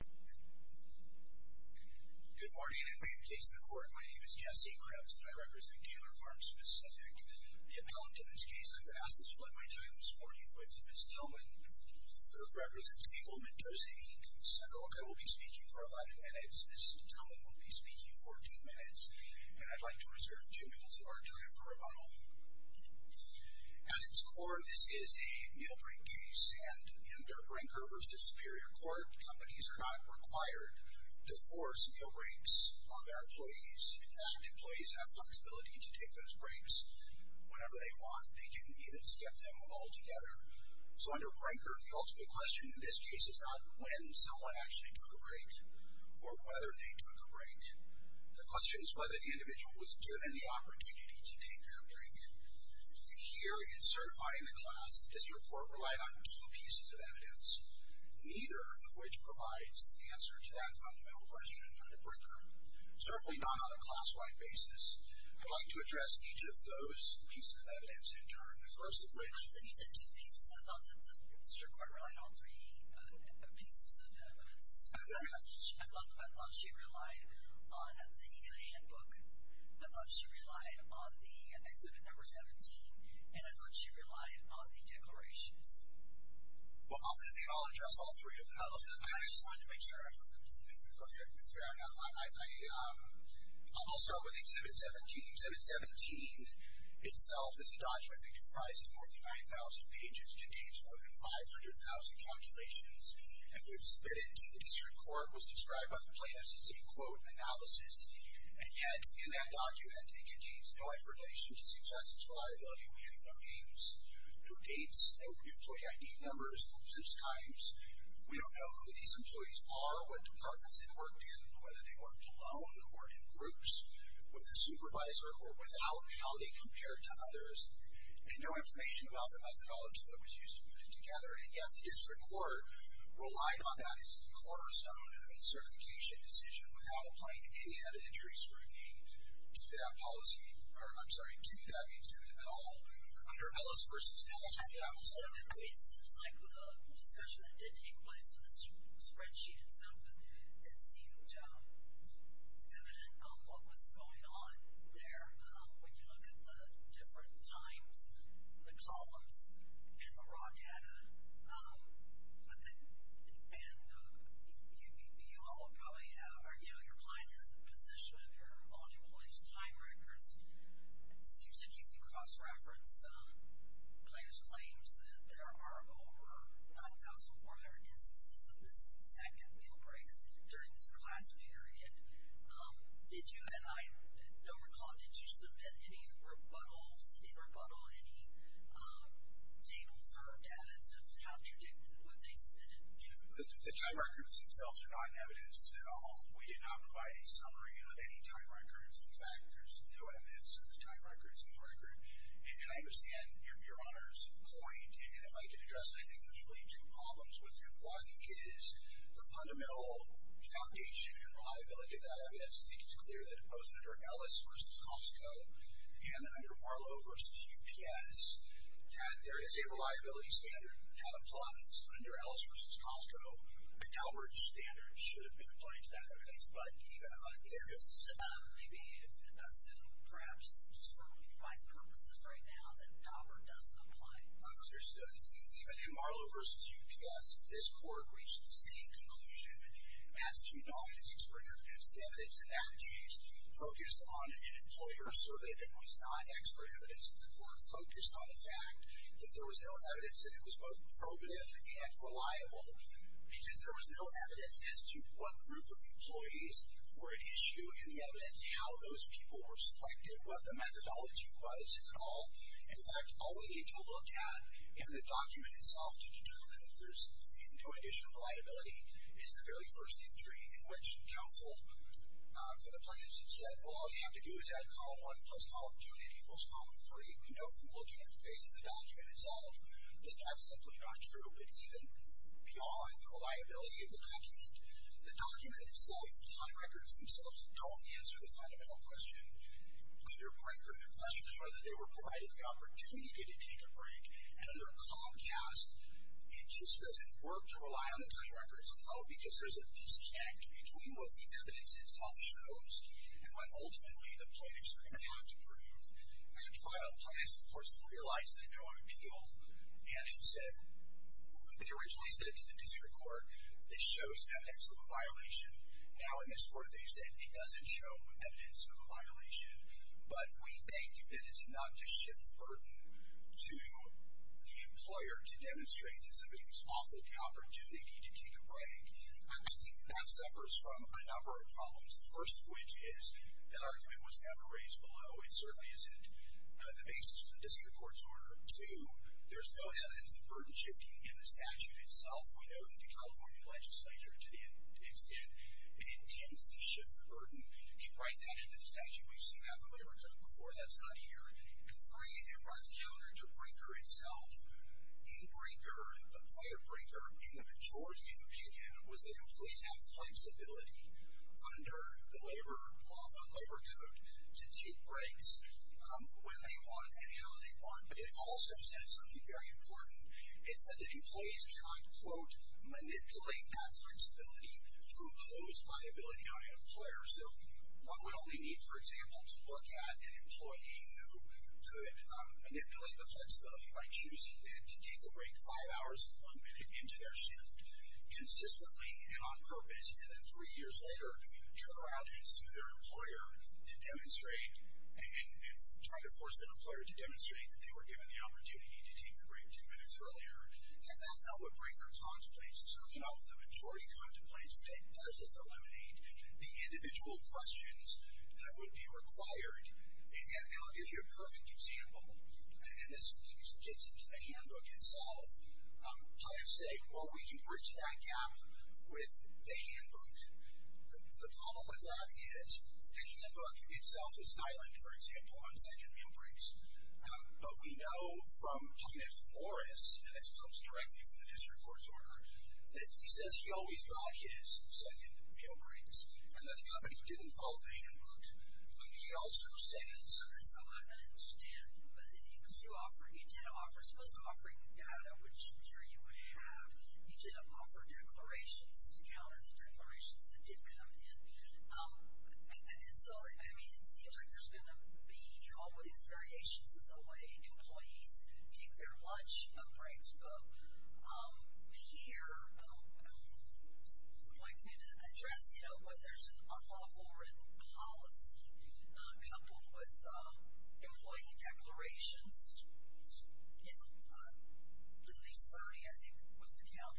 Good morning, and welcome to the case of the court. My name is Jesse Krebs and I represent Taylor Farms Pacific. The appellant in this case, I've asked to split my time this morning with Ms. Tillman, who represents Eagle, Mendoza, Inc. So I will be speaking for 11 minutes, Ms. Tillman will be speaking for 2 minutes, and I'd like to reserve 2 minutes of our time for rebuttal. At its core, this is a meal break case, and under Brinker v. Superior Court, companies are not required to force meal breaks on their employees. In fact, employees have flexibility to take those breaks whenever they want. They didn't need it to get them all together. So under Brinker, the ultimate question in this case is not when someone actually took a break or whether they took a break. The question is whether the individual was given the opportunity to take that break. Here in certifying the class, this report relied on two pieces of evidence, neither of which provides the answer to that fundamental question under Brinker, certainly not on a class-wide basis. I'd like to address each of those pieces of evidence in turn, the first of which And you said two pieces, I thought that the Supreme Court relied on three pieces of evidence. I thought she relied on the handbook, I thought she relied on the exhibit number 17, and I thought she relied on the declarations. Well, they all address all three of them. I just wanted to make sure. Fair enough. I'll start with exhibit 17. Exhibit 17 itself is a document that comprises more than 9,000 pages. It contains more than 500,000 calculations, and indeed the district court was described by the plaintiffs as a, quote, analysis. And yet, in that document, it contains life relations, successes, liability, we have no names, no dates, no employee ID numbers, no such times. We don't know who these employees are, what departments they worked in, whether they worked alone or in groups with a supervisor, or without how they compared to others, and no information about the methodology that was used to put it together. And yet the district court relied on that as the cornerstone of a certification decision without applying any evidentiary scrutiny to that policy, under Ellis v. Scott. It seems like a discussion that did take place on this spreadsheet itself, but it seemed evident on what was going on there when you look at the different times, the columns, and the raw data. And you all probably have, or, you know, your mind has a position of your reference, claims that there are over 9,400 instances of missing second meal breaks during this class period. Did you, and I don't recall, did you submit any rebuttals, any rebuttal, any data observed additives? How did you do it? What did they submit? The time records themselves are not in evidence at all. We did not provide a summary of any time records. In fact, there's no evidence of time records in this record. And I understand your Honor's point, and if I could address it, I think there's really two problems with it. One is the fundamental foundation and reliability of that evidence. I think it's clear that both under Ellis v. Costco and under Marlowe v. UPS, that there is a reliability standard that applies under Ellis v. Costco. A Daubert standard should have been applied to that evidence. But even under Ellis v. Costco. Maybe, perhaps for my purposes right now, that Daubert doesn't apply. Understood. Even in Marlowe v. UPS, this court reached the same conclusion as to not have expert evidence. The evidence in that case focused on an employer survey that was not expert evidence. The court focused on the fact that there was no evidence that it was both probative and reliable. Because there was no evidence as to what group of employees were at issue and the evidence how those people were selected, what the methodology was at all. In fact, all we need to look at in the document itself to determine if there's any condition of reliability is the very first entry in which counsel for the plaintiffs had said, well, all you have to do is add column 1 plus column 2 and it equals column 3. We know from looking at the face of the document itself that that's simply not true. But even beyond the reliability of the document, the document itself, the time records themselves don't answer the fundamental question of whether or not they were provided the opportunity to take a break. And under a column cast, it just doesn't work to rely on the time records at all because there's a disconnect between what the evidence itself shows and what ultimately the plaintiffs are going to have to prove at a trial. Plaintiffs, of course, have realized they know on appeal, and they originally said to the district court, this shows evidence of a violation. Now, in this court, they said it doesn't show evidence of a violation. But we think that it's enough to shift the burden to the employer to demonstrate that somebody was off the calendar, do they need to take a break. I think that suffers from a number of problems, the first of which is that argument was never raised below. It certainly isn't the basis of the district court's order. Two, there's no evidence of burden shifting in the statute itself. I know that the California legislature, to the extent it intends to shift the burden, can write that into the statute. We've seen that in the labor code before. That's not here. And three, it runs counter to Brinker itself. In Brinker, the play of Brinker, in the majority opinion, was that employees have flexibility under the labor law, under the labor code, to take breaks when they want and how they want. It also said something very important. It said that employees cannot, quote, manipulate that flexibility through close viability on an employer. So what we only need, for example, to look at an employee who could manipulate the flexibility by choosing then to take a break five hours and one minute into their shift consistently and on purpose, and then three years later, turn around and sue their employer to demonstrate and try to force that employer to demonstrate that they were given the opportunity to take a break two minutes earlier. And that's not what Brinker contemplates. It's certainly not what the majority contemplates. It doesn't eliminate the individual questions that would be required. And I'll give you a perfect example. And this gets into the handbook itself. I would say, well, we can bridge that gap with the handbook. The problem with that is the handbook itself is silent, for example, on second meal breaks. But we know from Thomas Morris, and this comes directly from the district court's order, that he says he always got his second meal breaks and that the company didn't follow the handbook. He also says... He did offer declarations to counter the declarations that did come in. And so, I mean, it seems like there's going to be, you know, always variations in the way employees take their lunch breaks. But here, I would like to address, you know, whether there's an unlawful written policy coupled with employee declarations. You know, at least 30, I think, was the count,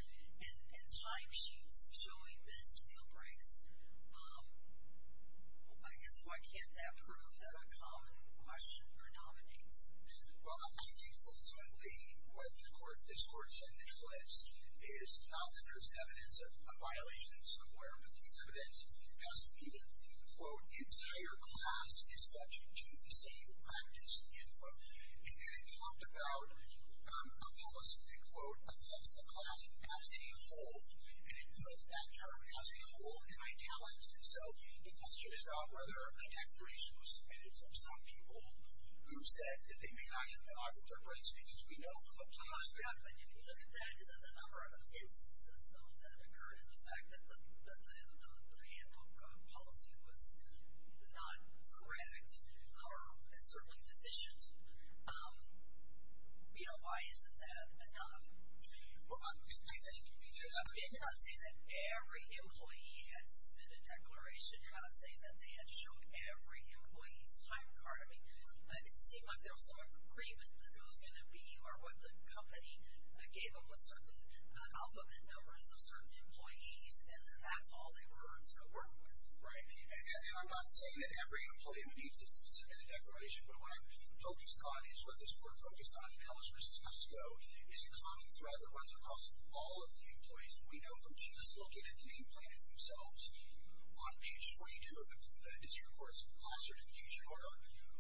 and timesheets showing missed meal breaks. I guess, why can't that prove that a common question predominates? Well, I think, ultimately, what this court said in its list is not that there's evidence of violations, but where with the evidence has to be that, quote, the entire class is subject to the same practice, end quote. And then it talked about a policy that, quote, affects the class as a whole, and it puts that term as a whole in italics. And so, the question is not whether a declaration was submitted from some people who said that they may not have been offered their breaks, because we know from the police... But if you look at that, there's a number of instances, though, that occurred in the fact that the handbook policy was not correct or certainly deficient. You know, why isn't that enough? Well, I think... I'm not saying that every employee had to submit a declaration. I'm not saying that they had to show every employee's time card. I mean, it seemed like there was some agreement that there was going to be or what the company gave them was certain alphabet numbers of certain employees, and that's all they were to work with. Right. And I'm not saying that every employee needs to submit a declaration, but what I'm focused on is what this court focused on in Ellis v. Costco is a common thread that runs across all of the employees. And we know from just looking at the name plaintiffs themselves, on page 42 of the district court's class certification order,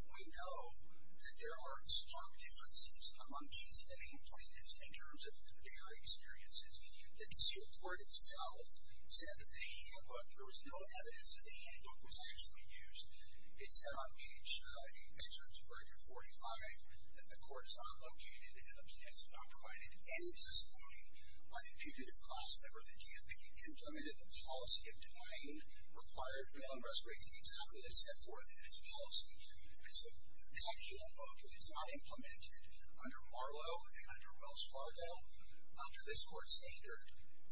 we know that there are stark differences among case and name plaintiffs in terms of their experiences. The district court itself said that the handbook, there was no evidence that the handbook was actually used. It said on page 45 that the court is not located, and, obviously, that's not provided any discipline by the fugitive class member that can't be implemented. The policy obtained required bail-and-respite teams not be to step forth in its policy. And so that handbook, if it's not implemented under Marlow and under Wells Fargo, under this court's standard,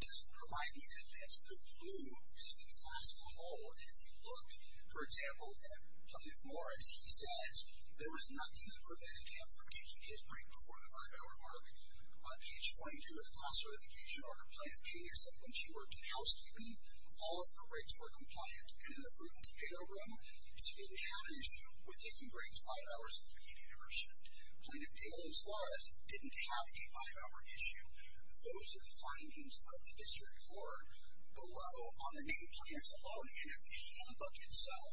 doesn't provide the evidence. The blue is the classical hole. And if you look, for example, at Cliff Morris, he says, there was nothing that prevented him from taking his break before the five-hour mark. On page 22 of the class certification order, Plaintiff Taylor said when she worked in housekeeping, all of her breaks were compliant. And in the fruit-and-tomato room, she didn't have an issue with taking breaks five hours at the beginning of her shift. Plaintiff Taylor's laws didn't have a five-hour issue. Those are the findings of the district court. Below, on the nameplates alone, in the handbook itself,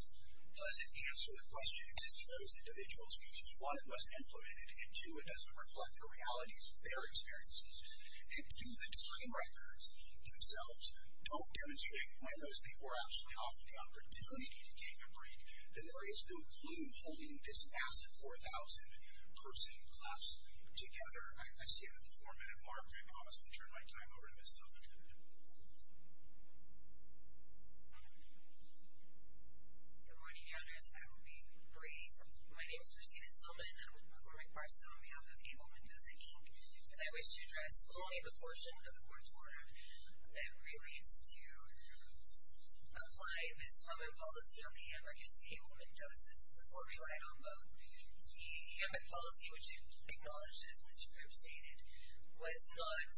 does it answer the question as to those individuals, because, one, it wasn't implemented, and, two, it doesn't reflect the realities of their experiences. And, two, the time records themselves don't demonstrate when those people were actually offered the opportunity to take a break. There is no clue holding this massive 4,000-person class together. I see it at the four-minute mark. I promise to turn my time over to Ms. Tillman. Good morning, founders. I will be brief. My name is Christina Tillman. I'm with McCormick Barstow, and we have a paper with a dozen ink. And I wish to address only the portion of the court's order that relates to applying this common policy on the handbook as to ablement doses. The court relied on both. The handbook policy, which it acknowledged, as Mr. Cooke stated, was not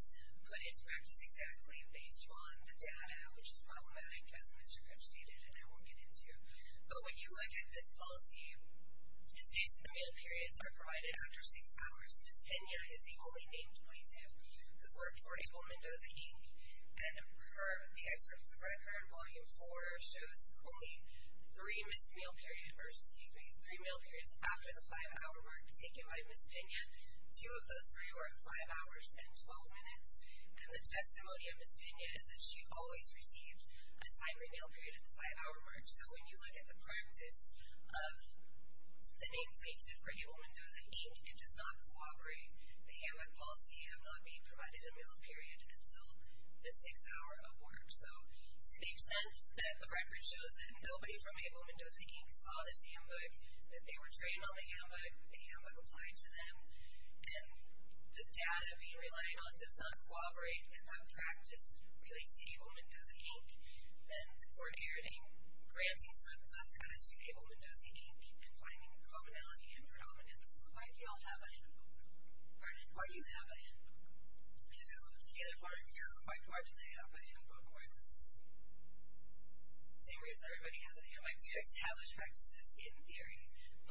put into practice exactly based on the data, which is problematic, as Mr. Cooke stated, and I won't get into. But when you look at this policy, it states that three-hour periods are provided after six hours. Ms. Pena is the only named plaintiff who worked for ablement dosing ink, and the excerpts from her current volume four show Ms. Cooke, three missed meal periods, or excuse me, three meal periods after the five-hour mark taken by Ms. Pena. Two of those three were at five hours and 12 minutes. And the testimony of Ms. Pena is that she always received a timely meal period at the five-hour mark. So when you look at the practice of the named plaintiff for ablement dosing ink, it does not corroborate the handbook policy of not being provided a meal period until the sixth hour of work. So to the extent that the record shows that nobody from ablement dosing ink saw this handbook, that they were trained on the handbook, the handbook applied to them, and the data being relied on does not corroborate that that practice relates to ablement dosing ink, then coordinating, granting such status to ablement dosing ink and finding commonality and predominance. Why do you all have a handbook? Why do you have a handbook? Do you have a particular part of your work? Why do they have a handbook? Same reason everybody has a handbook. You establish practices in theory. But when you're working with a farm labor contractor and you don't share those practices, and when they have ablement dosing ink because it's unsupervised or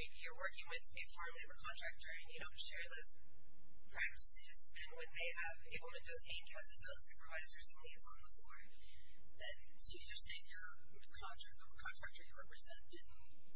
something, it's on the board, then so you're just saying the contractor you represent didn't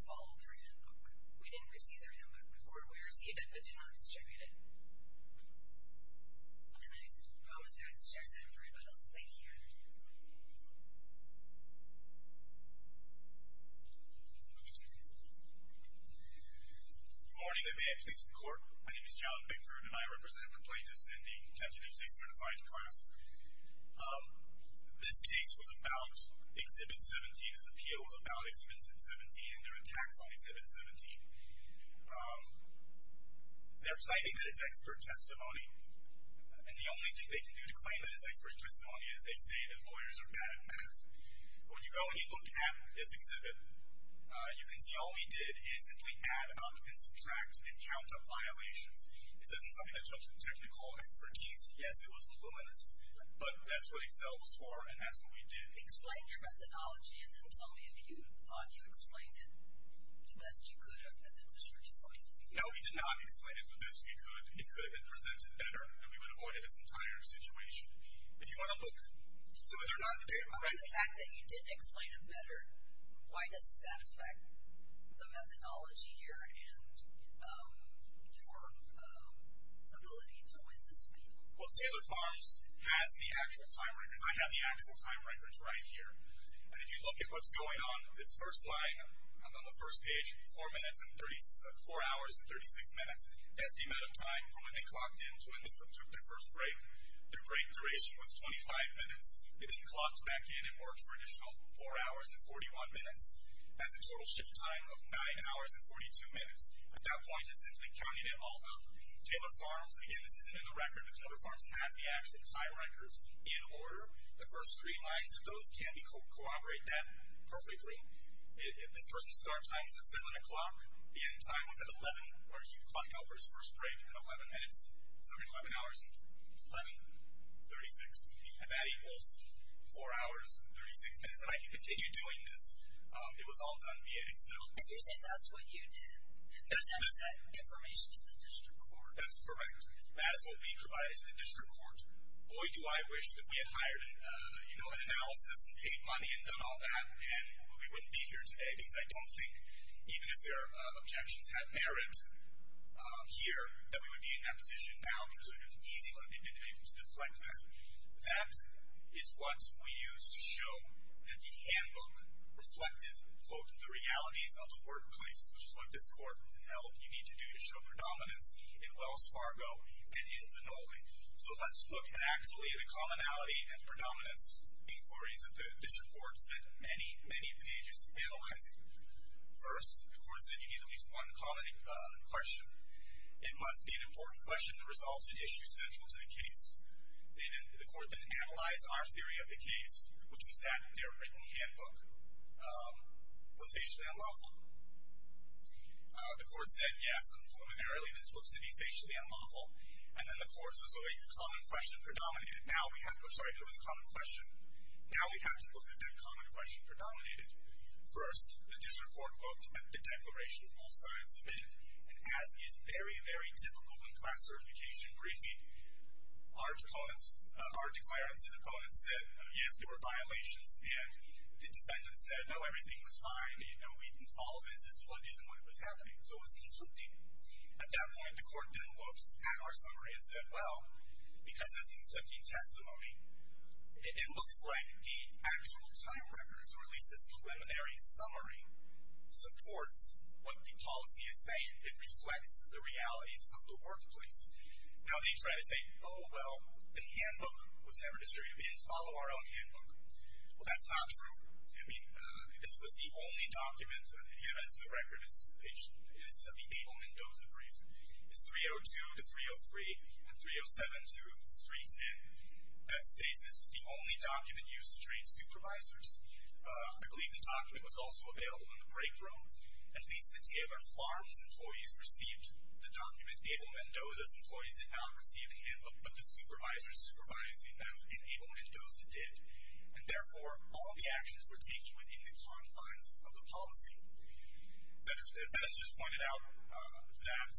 follow through with the handbook. We didn't receive the handbook, or we received it, but did not distribute it. And I promise to have this checked out for everybody else. Thank you. Good morning. May I have a place in court? My name is John Bickford, and I represent the plaintiffs in the tentatively certified class. This case was about Exhibit 17. This appeal was about Exhibit 17, and their attacks on Exhibit 17. They're citing that it's expert testimony, and the only thing they can do to claim that it's expert testimony is they say that lawyers are bad at math. When you go and you look at this exhibit, you can see all he did is simply add, omit, and subtract, and count up violations. This isn't something that took some technical expertise. Yes, it was a little bit, but that's what Excel was for, and that's what we did. Explain your methodology, and then tell me if you thought you explained it the best you could at the district court. No, we did not explain it the best we could. It could have been presented better, and we would have avoided this entire situation. If you want to look to whether or not they were right. The fact that you didn't explain it better, why doesn't that affect the methodology here and your ability to win this case? Well, Taylor Farms has the actual time records. I have the actual time records right here. And if you look at what's going on, this first line on the first page, 4 hours and 36 minutes, that's the amount of time from when they clocked in to when they took their first break. Their break duration was 25 minutes. They then clocked back in and worked for an additional 4 hours and 41 minutes. That's a total shift time of 9 hours and 42 minutes. At that point, it's simply counting it all up. Taylor Farms, again, this isn't in the record, but Taylor Farms has the actual time records in order. The first three lines of those can corroborate that perfectly. If this person's start time is at 7 o'clock, the end time was at 11, or he clocked out for his first break at 11 minutes, assuming 11 hours and 36. And that equals 4 hours and 36 minutes. And I could continue doing this. It was all done via Excel. But you're saying that's what you did. That's not information to the district court. That's correct. That is what we provided to the district court. Boy, do I wish that we had hired an analysis and paid money and done all that, and we wouldn't be here today. Because I don't think, even if their objections had merit here, that we would be in that position now, because it was an easy lending to deflect that. That is what we used to show that the handbook reflected, quote, the realities of the workplace, which is what this court held. So let's look at actually the commonality and the predominance, for reasons that the district court spent many, many pages analyzing. First, the court said you need at least one common question. It must be an important question that resolves an issue central to the case. The court then analyzed our theory of the case, which was that their written handbook was facially unlawful. The court said, yes, preliminarily, this looks to be facially unlawful. And then the court says, okay, the common question predominated. Now we have to look at the common question predominated. First, the district court looked at the declarations both sides submitted. And as is very, very typical in class certification briefing, our declarants' opponents said, yes, there were violations at the end. The defendant said, no, everything was fine, and we can solve this as it was happening. So it was conflicting. At that point, the court then looked at our summary and said, well, because this is conflicting testimony, it looks like the actual time record to release this preliminary summary supports what the policy is saying. It reflects the realities of the workplace. Now they try to say, oh, well, the handbook was never distributed. We didn't follow our own handbook. Well, that's not true. I mean, this was the only document, and it adds to the record, is that the Abel Mendoza brief is 302 to 303 and 307 to 310. That states this was the only document used to train supervisors. I believe the document was also available in the break room. At least the Tiagar Farms employees received the document. Abel Mendoza's employees did not receive the handbook, but the supervisors supervising them in Abel Mendoza did. And, therefore, all of the actions were taken within the confines of the policy. As Ben has just pointed out, that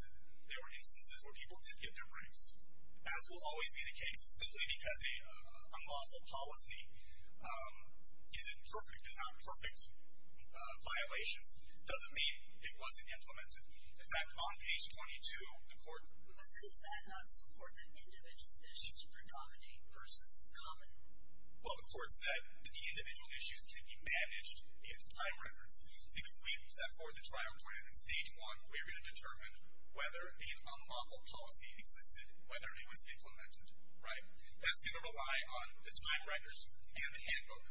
there were instances where people did get their briefs, as will always be the case. Simply because a lawful policy is in perfect and not perfect violations doesn't mean it wasn't implemented. In fact, on page 22, the court. But does that not support that individual decisions predominate versus common? Well, the court said that the individual issues can be managed in time records. So if we set forth a trial plan in stage one, we're going to determine whether an unlawful policy existed, whether it was implemented, right? That's going to rely on the time records and the handbook,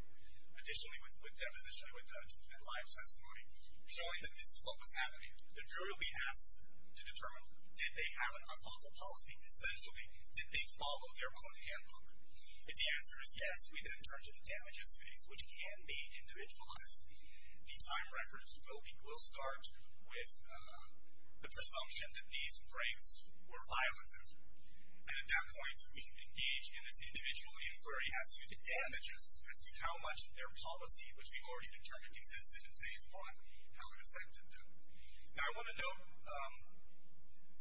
additionally with deposition and live testimony, showing that this is what was happening. The jury will be asked to determine, did they have an unlawful policy? Essentially, did they follow their own handbook? If the answer is yes, we then turn to the damages phase, which can be individualized. The time records will start with the presumption that these breaks were violative. And at that point, we engage in this individual inquiry as to the damages, as to how much their policy, which we've already determined existed in stage one, how it affected them. Now, I want to note,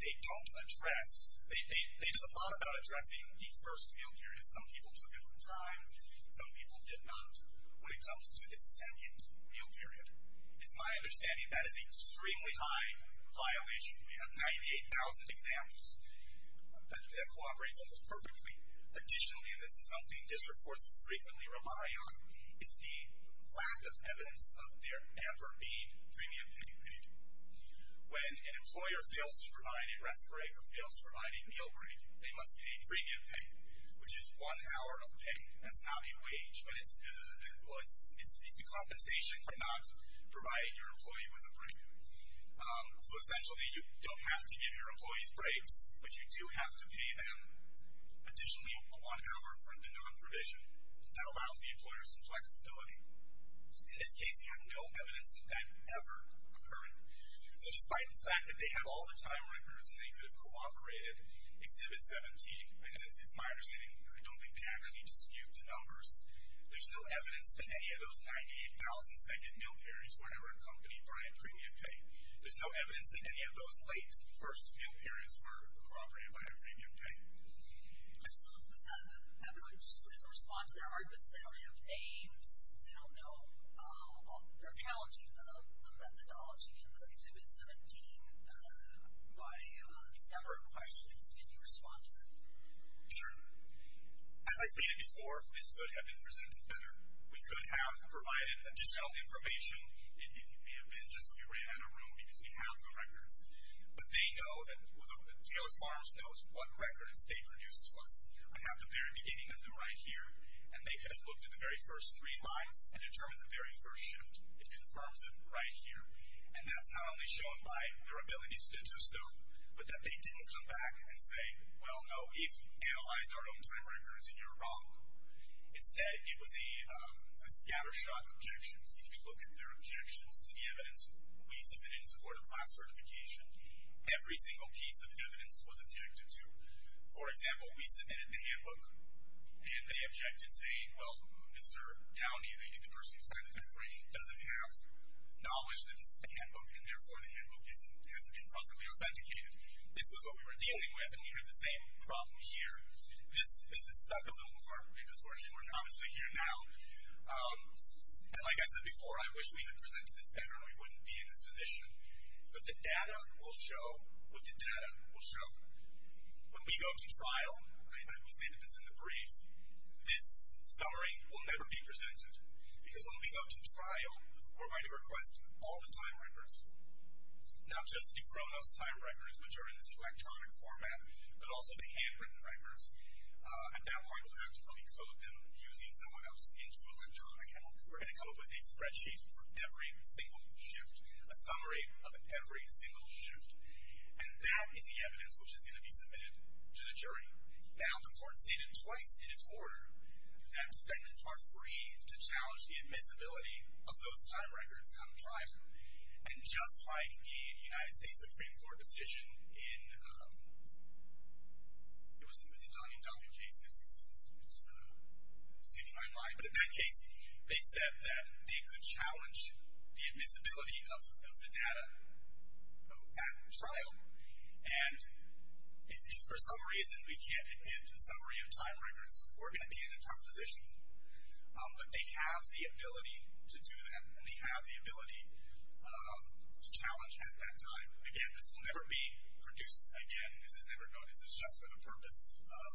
they don't address, they did a lot about addressing the first meal period. Some people took it on time, some people did not. When it comes to the second meal period, it's my understanding that is an extremely high violation. We have 98,000 examples. That cooperates almost perfectly. Additionally, and this is something district courts frequently rely on, is the lack of evidence of there ever being premiums being paid. When an employer fails to provide a rest break or fails to provide a meal break, they must pay premium pay, which is one hour of pay. That's not a wage, but it's the compensation for not providing your employee with a break. So essentially, you don't have to give your employees breaks, but you do have to pay them additionally one hour for the non-provision. That allows the employer some flexibility. In this case, we have no evidence that that ever occurred. So despite the fact that they have all the time records and they could have cooperated, Exhibit 17, and it's my understanding, I don't think they actually disputed numbers, there's no evidence that any of those 98,000 second meal periods were ever accompanied by a premium pay. There's no evidence that any of those late first meal periods were cooperated by a premium pay. Excellent. Everyone just couldn't respond to their arguments. They don't have names. They don't know. They're challenging the methodology in the Exhibit 17 by a number of questions. Can you respond to that? Sure. As I stated before, this could have been presented better. We could have provided additional information. It may have been just we ran a rule because we have the records. But they know that Taylor Farms knows what records they produced to us. I have the very beginning of them right here, and they could have looked at the very first three lines and determined the very first shift. It confirms it right here. And that's not only shown by their ability to do so, but that they didn't come back and say, well, no, if we analyze our own time records, then you're wrong. Instead, it was a scattershot of objections. If you look at their objections to the evidence, we submitted in support of class certification. Every single piece of evidence was objected to. For example, we submitted the handbook, and they objected saying, well, Mr. Downey, the person who signed the declaration, doesn't have knowledge that this is the handbook, and therefore the handbook hasn't been properly authenticated. This was what we were dealing with, and we had the same problem here. This has stuck a little more because we're obviously here now. And like I said before, I wish we had presented this better, and we wouldn't be in this position. But the data will show what the data will show. When we go to trial, and we stated this in the brief, this summary will never be presented. Because when we go to trial, we're going to request all the time records, not just the Khronos time records, which are in this electronic format, but also the handwritten records. At that point, we'll have to probably code them using someone else into electronic, and we're going to come up with a spreadsheet for every single shift, a summary of every single shift. And that is the evidence which is going to be submitted to the jury. Now, the court stated twice in its order that defendants are free to challenge the admissibility of those time records come trial. And just like the United States Supreme Court decision in... It was in the Zidane and Duffy case in 1966. It's steaming my mind. But in that case, they said that they could challenge the admissibility of the data at trial. And if for some reason we can't get a summary of time records, we're going to be in a tough position. But they have the ability to do that, and they have the ability to challenge at that time. Again, this will never be produced again. This is never done. This is just for the purpose of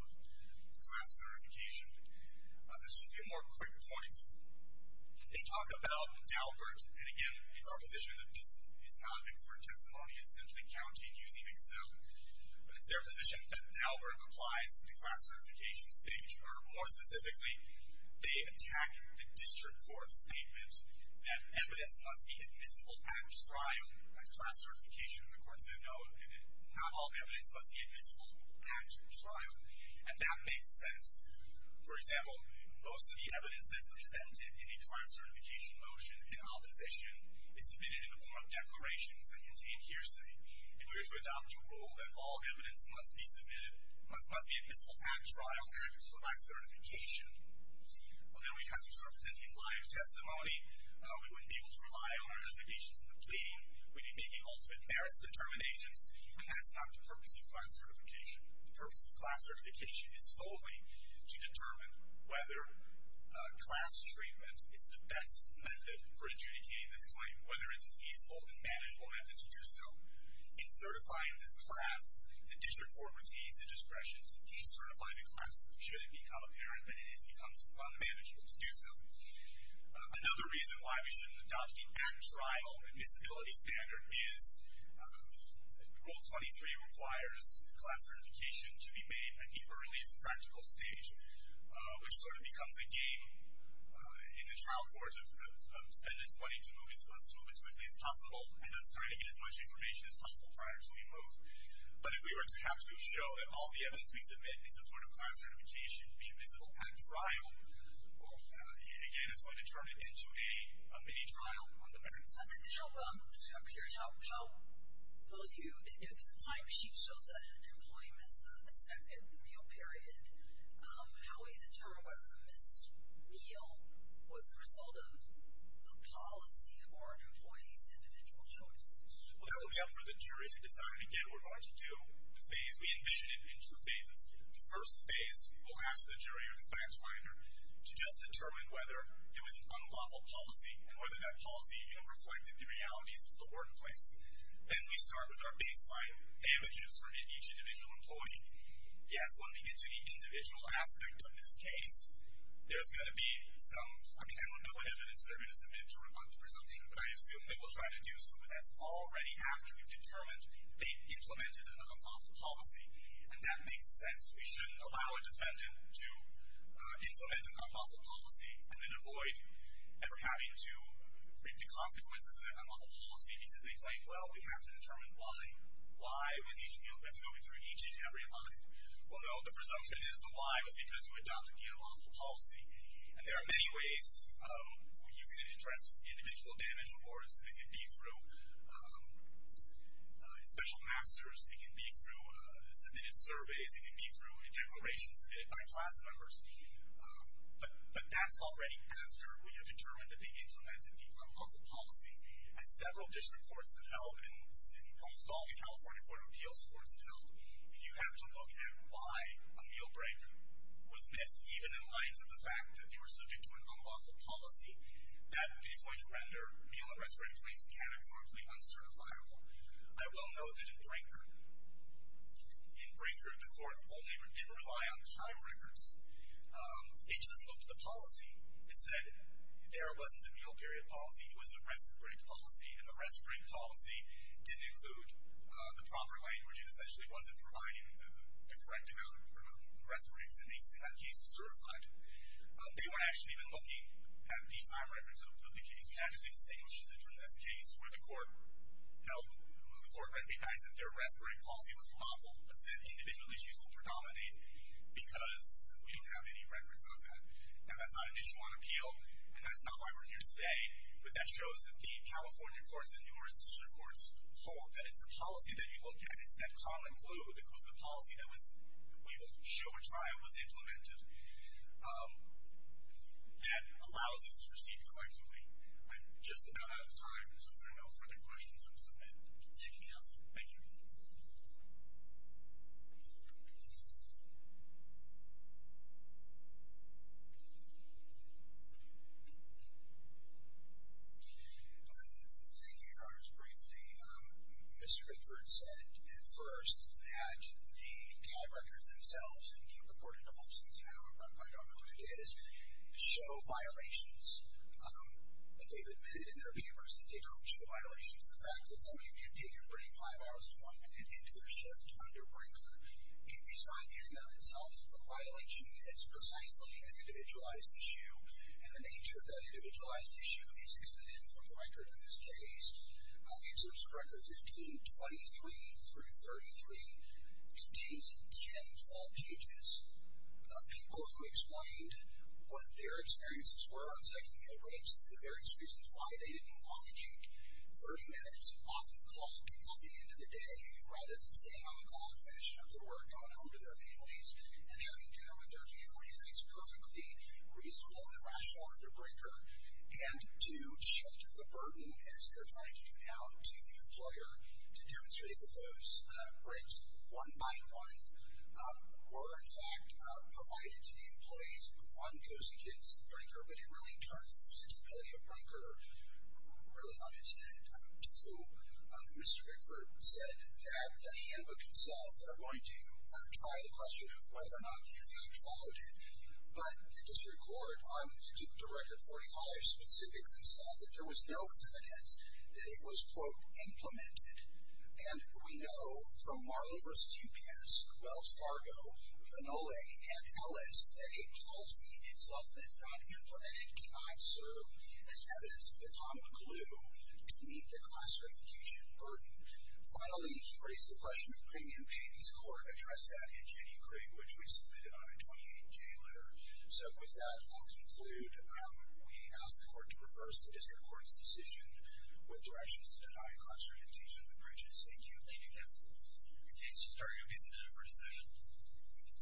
class certification. Just a few more quick points. They talk about Daubert. And again, it's our position that this is not an expert testimony. It's simply counting using Excel. But it's their position that Daubert applies to the class certification stage. Or more specifically, they attack the district court's statement that evidence must be admissible at trial, at class certification. The court said, no, not all evidence must be admissible at trial. And that makes sense. For example, most of the evidence that's presented in a class certification motion in opposition is submitted in the form of declarations that contain hearsay. If we were to adopt a rule that all evidence must be submitted, must be admissible at trial, at or by certification, well, then we'd have to start presenting live testimony. We wouldn't be able to rely on our applications in the plea. We'd be making ultimate merits determinations. And that's not the purpose of class certification. The purpose of class certification is solely to determine whether class treatment is the best method for adjudicating this claim, whether it's a feasible and manageable method to do so. In certifying this class, the district court retains the discretion to decertify the class should it become apparent that it becomes unmanageable to do so. Another reason why we shouldn't adopt the at-trial admissibility standard is Rule 23 requires class certification to be made at the earliest practical stage, which sort of becomes a game in the trial court of defendants wanting to move as quickly as possible and us trying to get as much information as possible prior to we move. But if we were to have to show that all the evidence we submit in support of class certification be admissible at trial, well, again, that's going to turn it into a mini-trial on the merits side. Now, here's how I'll pollute. If the timesheet shows that an employee missed the second meal period, how would you determine whether the missed meal was the result of the policy or an employee's individual choice? Well, that would be up for the jury to decide. Again, we're going to do the phase. We envision it into phases. The first phase, we will ask the jury or the class finder to just determine whether it was an unlawful policy and whether that policy reflected the realities of the workplace. Then we start with our baseline damages for each individual employee. Yes, when we get to the individual aspect of this case, there's going to be some, I mean, I don't know what evidence they're going to submit to rebut the presumption, but I assume they will try to do so. But that's already after we've determined they implemented an unlawful policy. And that makes sense. We shouldn't allow a defendant to implement an unlawful policy and then avoid ever having to bring to consequences an unlawful policy because they think, well, we have to determine why. Why was each meal been going through each and every line? Well, no, the presumption is the why was because you adopted the unlawful policy. And there are many ways you can address individual damage or it can be through special masters. It can be through submitted surveys. It can be through declarations submitted by class members. But that's already after we have determined that they implemented the unlawful policy. As several district courts have held, and almost all the California Court of Appeals courts have held, you have to look at why a meal break was missed, even in light of the fact that they were subject to an unlawful policy. That is going to render meal arrest rate claims categorically uncertifiable. I will note that in Brinkford, in Brinkford, the court only did rely on time records. They just looked at the policy. It said there wasn't a meal period policy. It was a rest break policy, and the rest break policy didn't include the proper language. It essentially wasn't providing the correct amount for rest breaks. In that case, it was certified. They were actually looking at the time records of the case. We actually distinguish it from this case where the court helped the court recognize that their rest break policy was unlawful, but said individual issues will predominate because we don't have any records on that. Now, that's not an issue on appeal, and that's not why we're here today, but that shows that the California courts and numerous district courts hold that it's the policy that you look at, it's that common clue that the policy that we will show and try was implemented that allows us to proceed collectively. I'm just about out of time, so if there are no further questions, I'll submit. You can cancel. Thank you. Thank you, Your Honors. Briefly, Mr. Richards said at first that the time records themselves, and he reported on some of them. I don't know who it is. They show violations. They've admitted in their papers that they don't show violations. The fact that somebody can take a break five hours to one minute into their shift under Brenker is not in and of itself a violation. It's precisely an individualized issue, and the nature of that individualized issue is evident from the record of this case. Excerpts of records 1523 through 33 contains 10 full pages of people who explained what their experiences were on second-hand breaks, the various reasons why they didn't want to take 30 minutes off the clock at the end of the day rather than staying on the clock, finishing up their work, going home to their families, and having dinner with their families. And it's perfectly reasonable and rational under Brenker and to shift the burden as they're trying to get out to the employer to demonstrate that those breaks, one-by-one, were in fact provided to the employees who, one, goes against Brenker, but it really turns the fiscality of Brenker really on its head. Two, Mr. Hickford said that the handbook itself are going to try the question of whether or not the effect followed it, but the district court, I'm the director of Forty College, specifically said that there was no evidence that it was, quote, implemented. And we know from Marlowe v. UPS, Wells Fargo, Vinole, and Ellis that a policy, something that's not implemented, cannot serve as evidence of the common clue to meet the class-orientation burden. Finally, he raised the question of premium pay. This court addressed that in Jenny Craig, which we submitted on a 28-J letter. So with that, I'll conclude. We ask the court to reverse the district court's decision with directions to deny class-orientation of the bridges. Thank you. Thank you, counsel. Mr. Hickford, are you going to be submitted for a decision?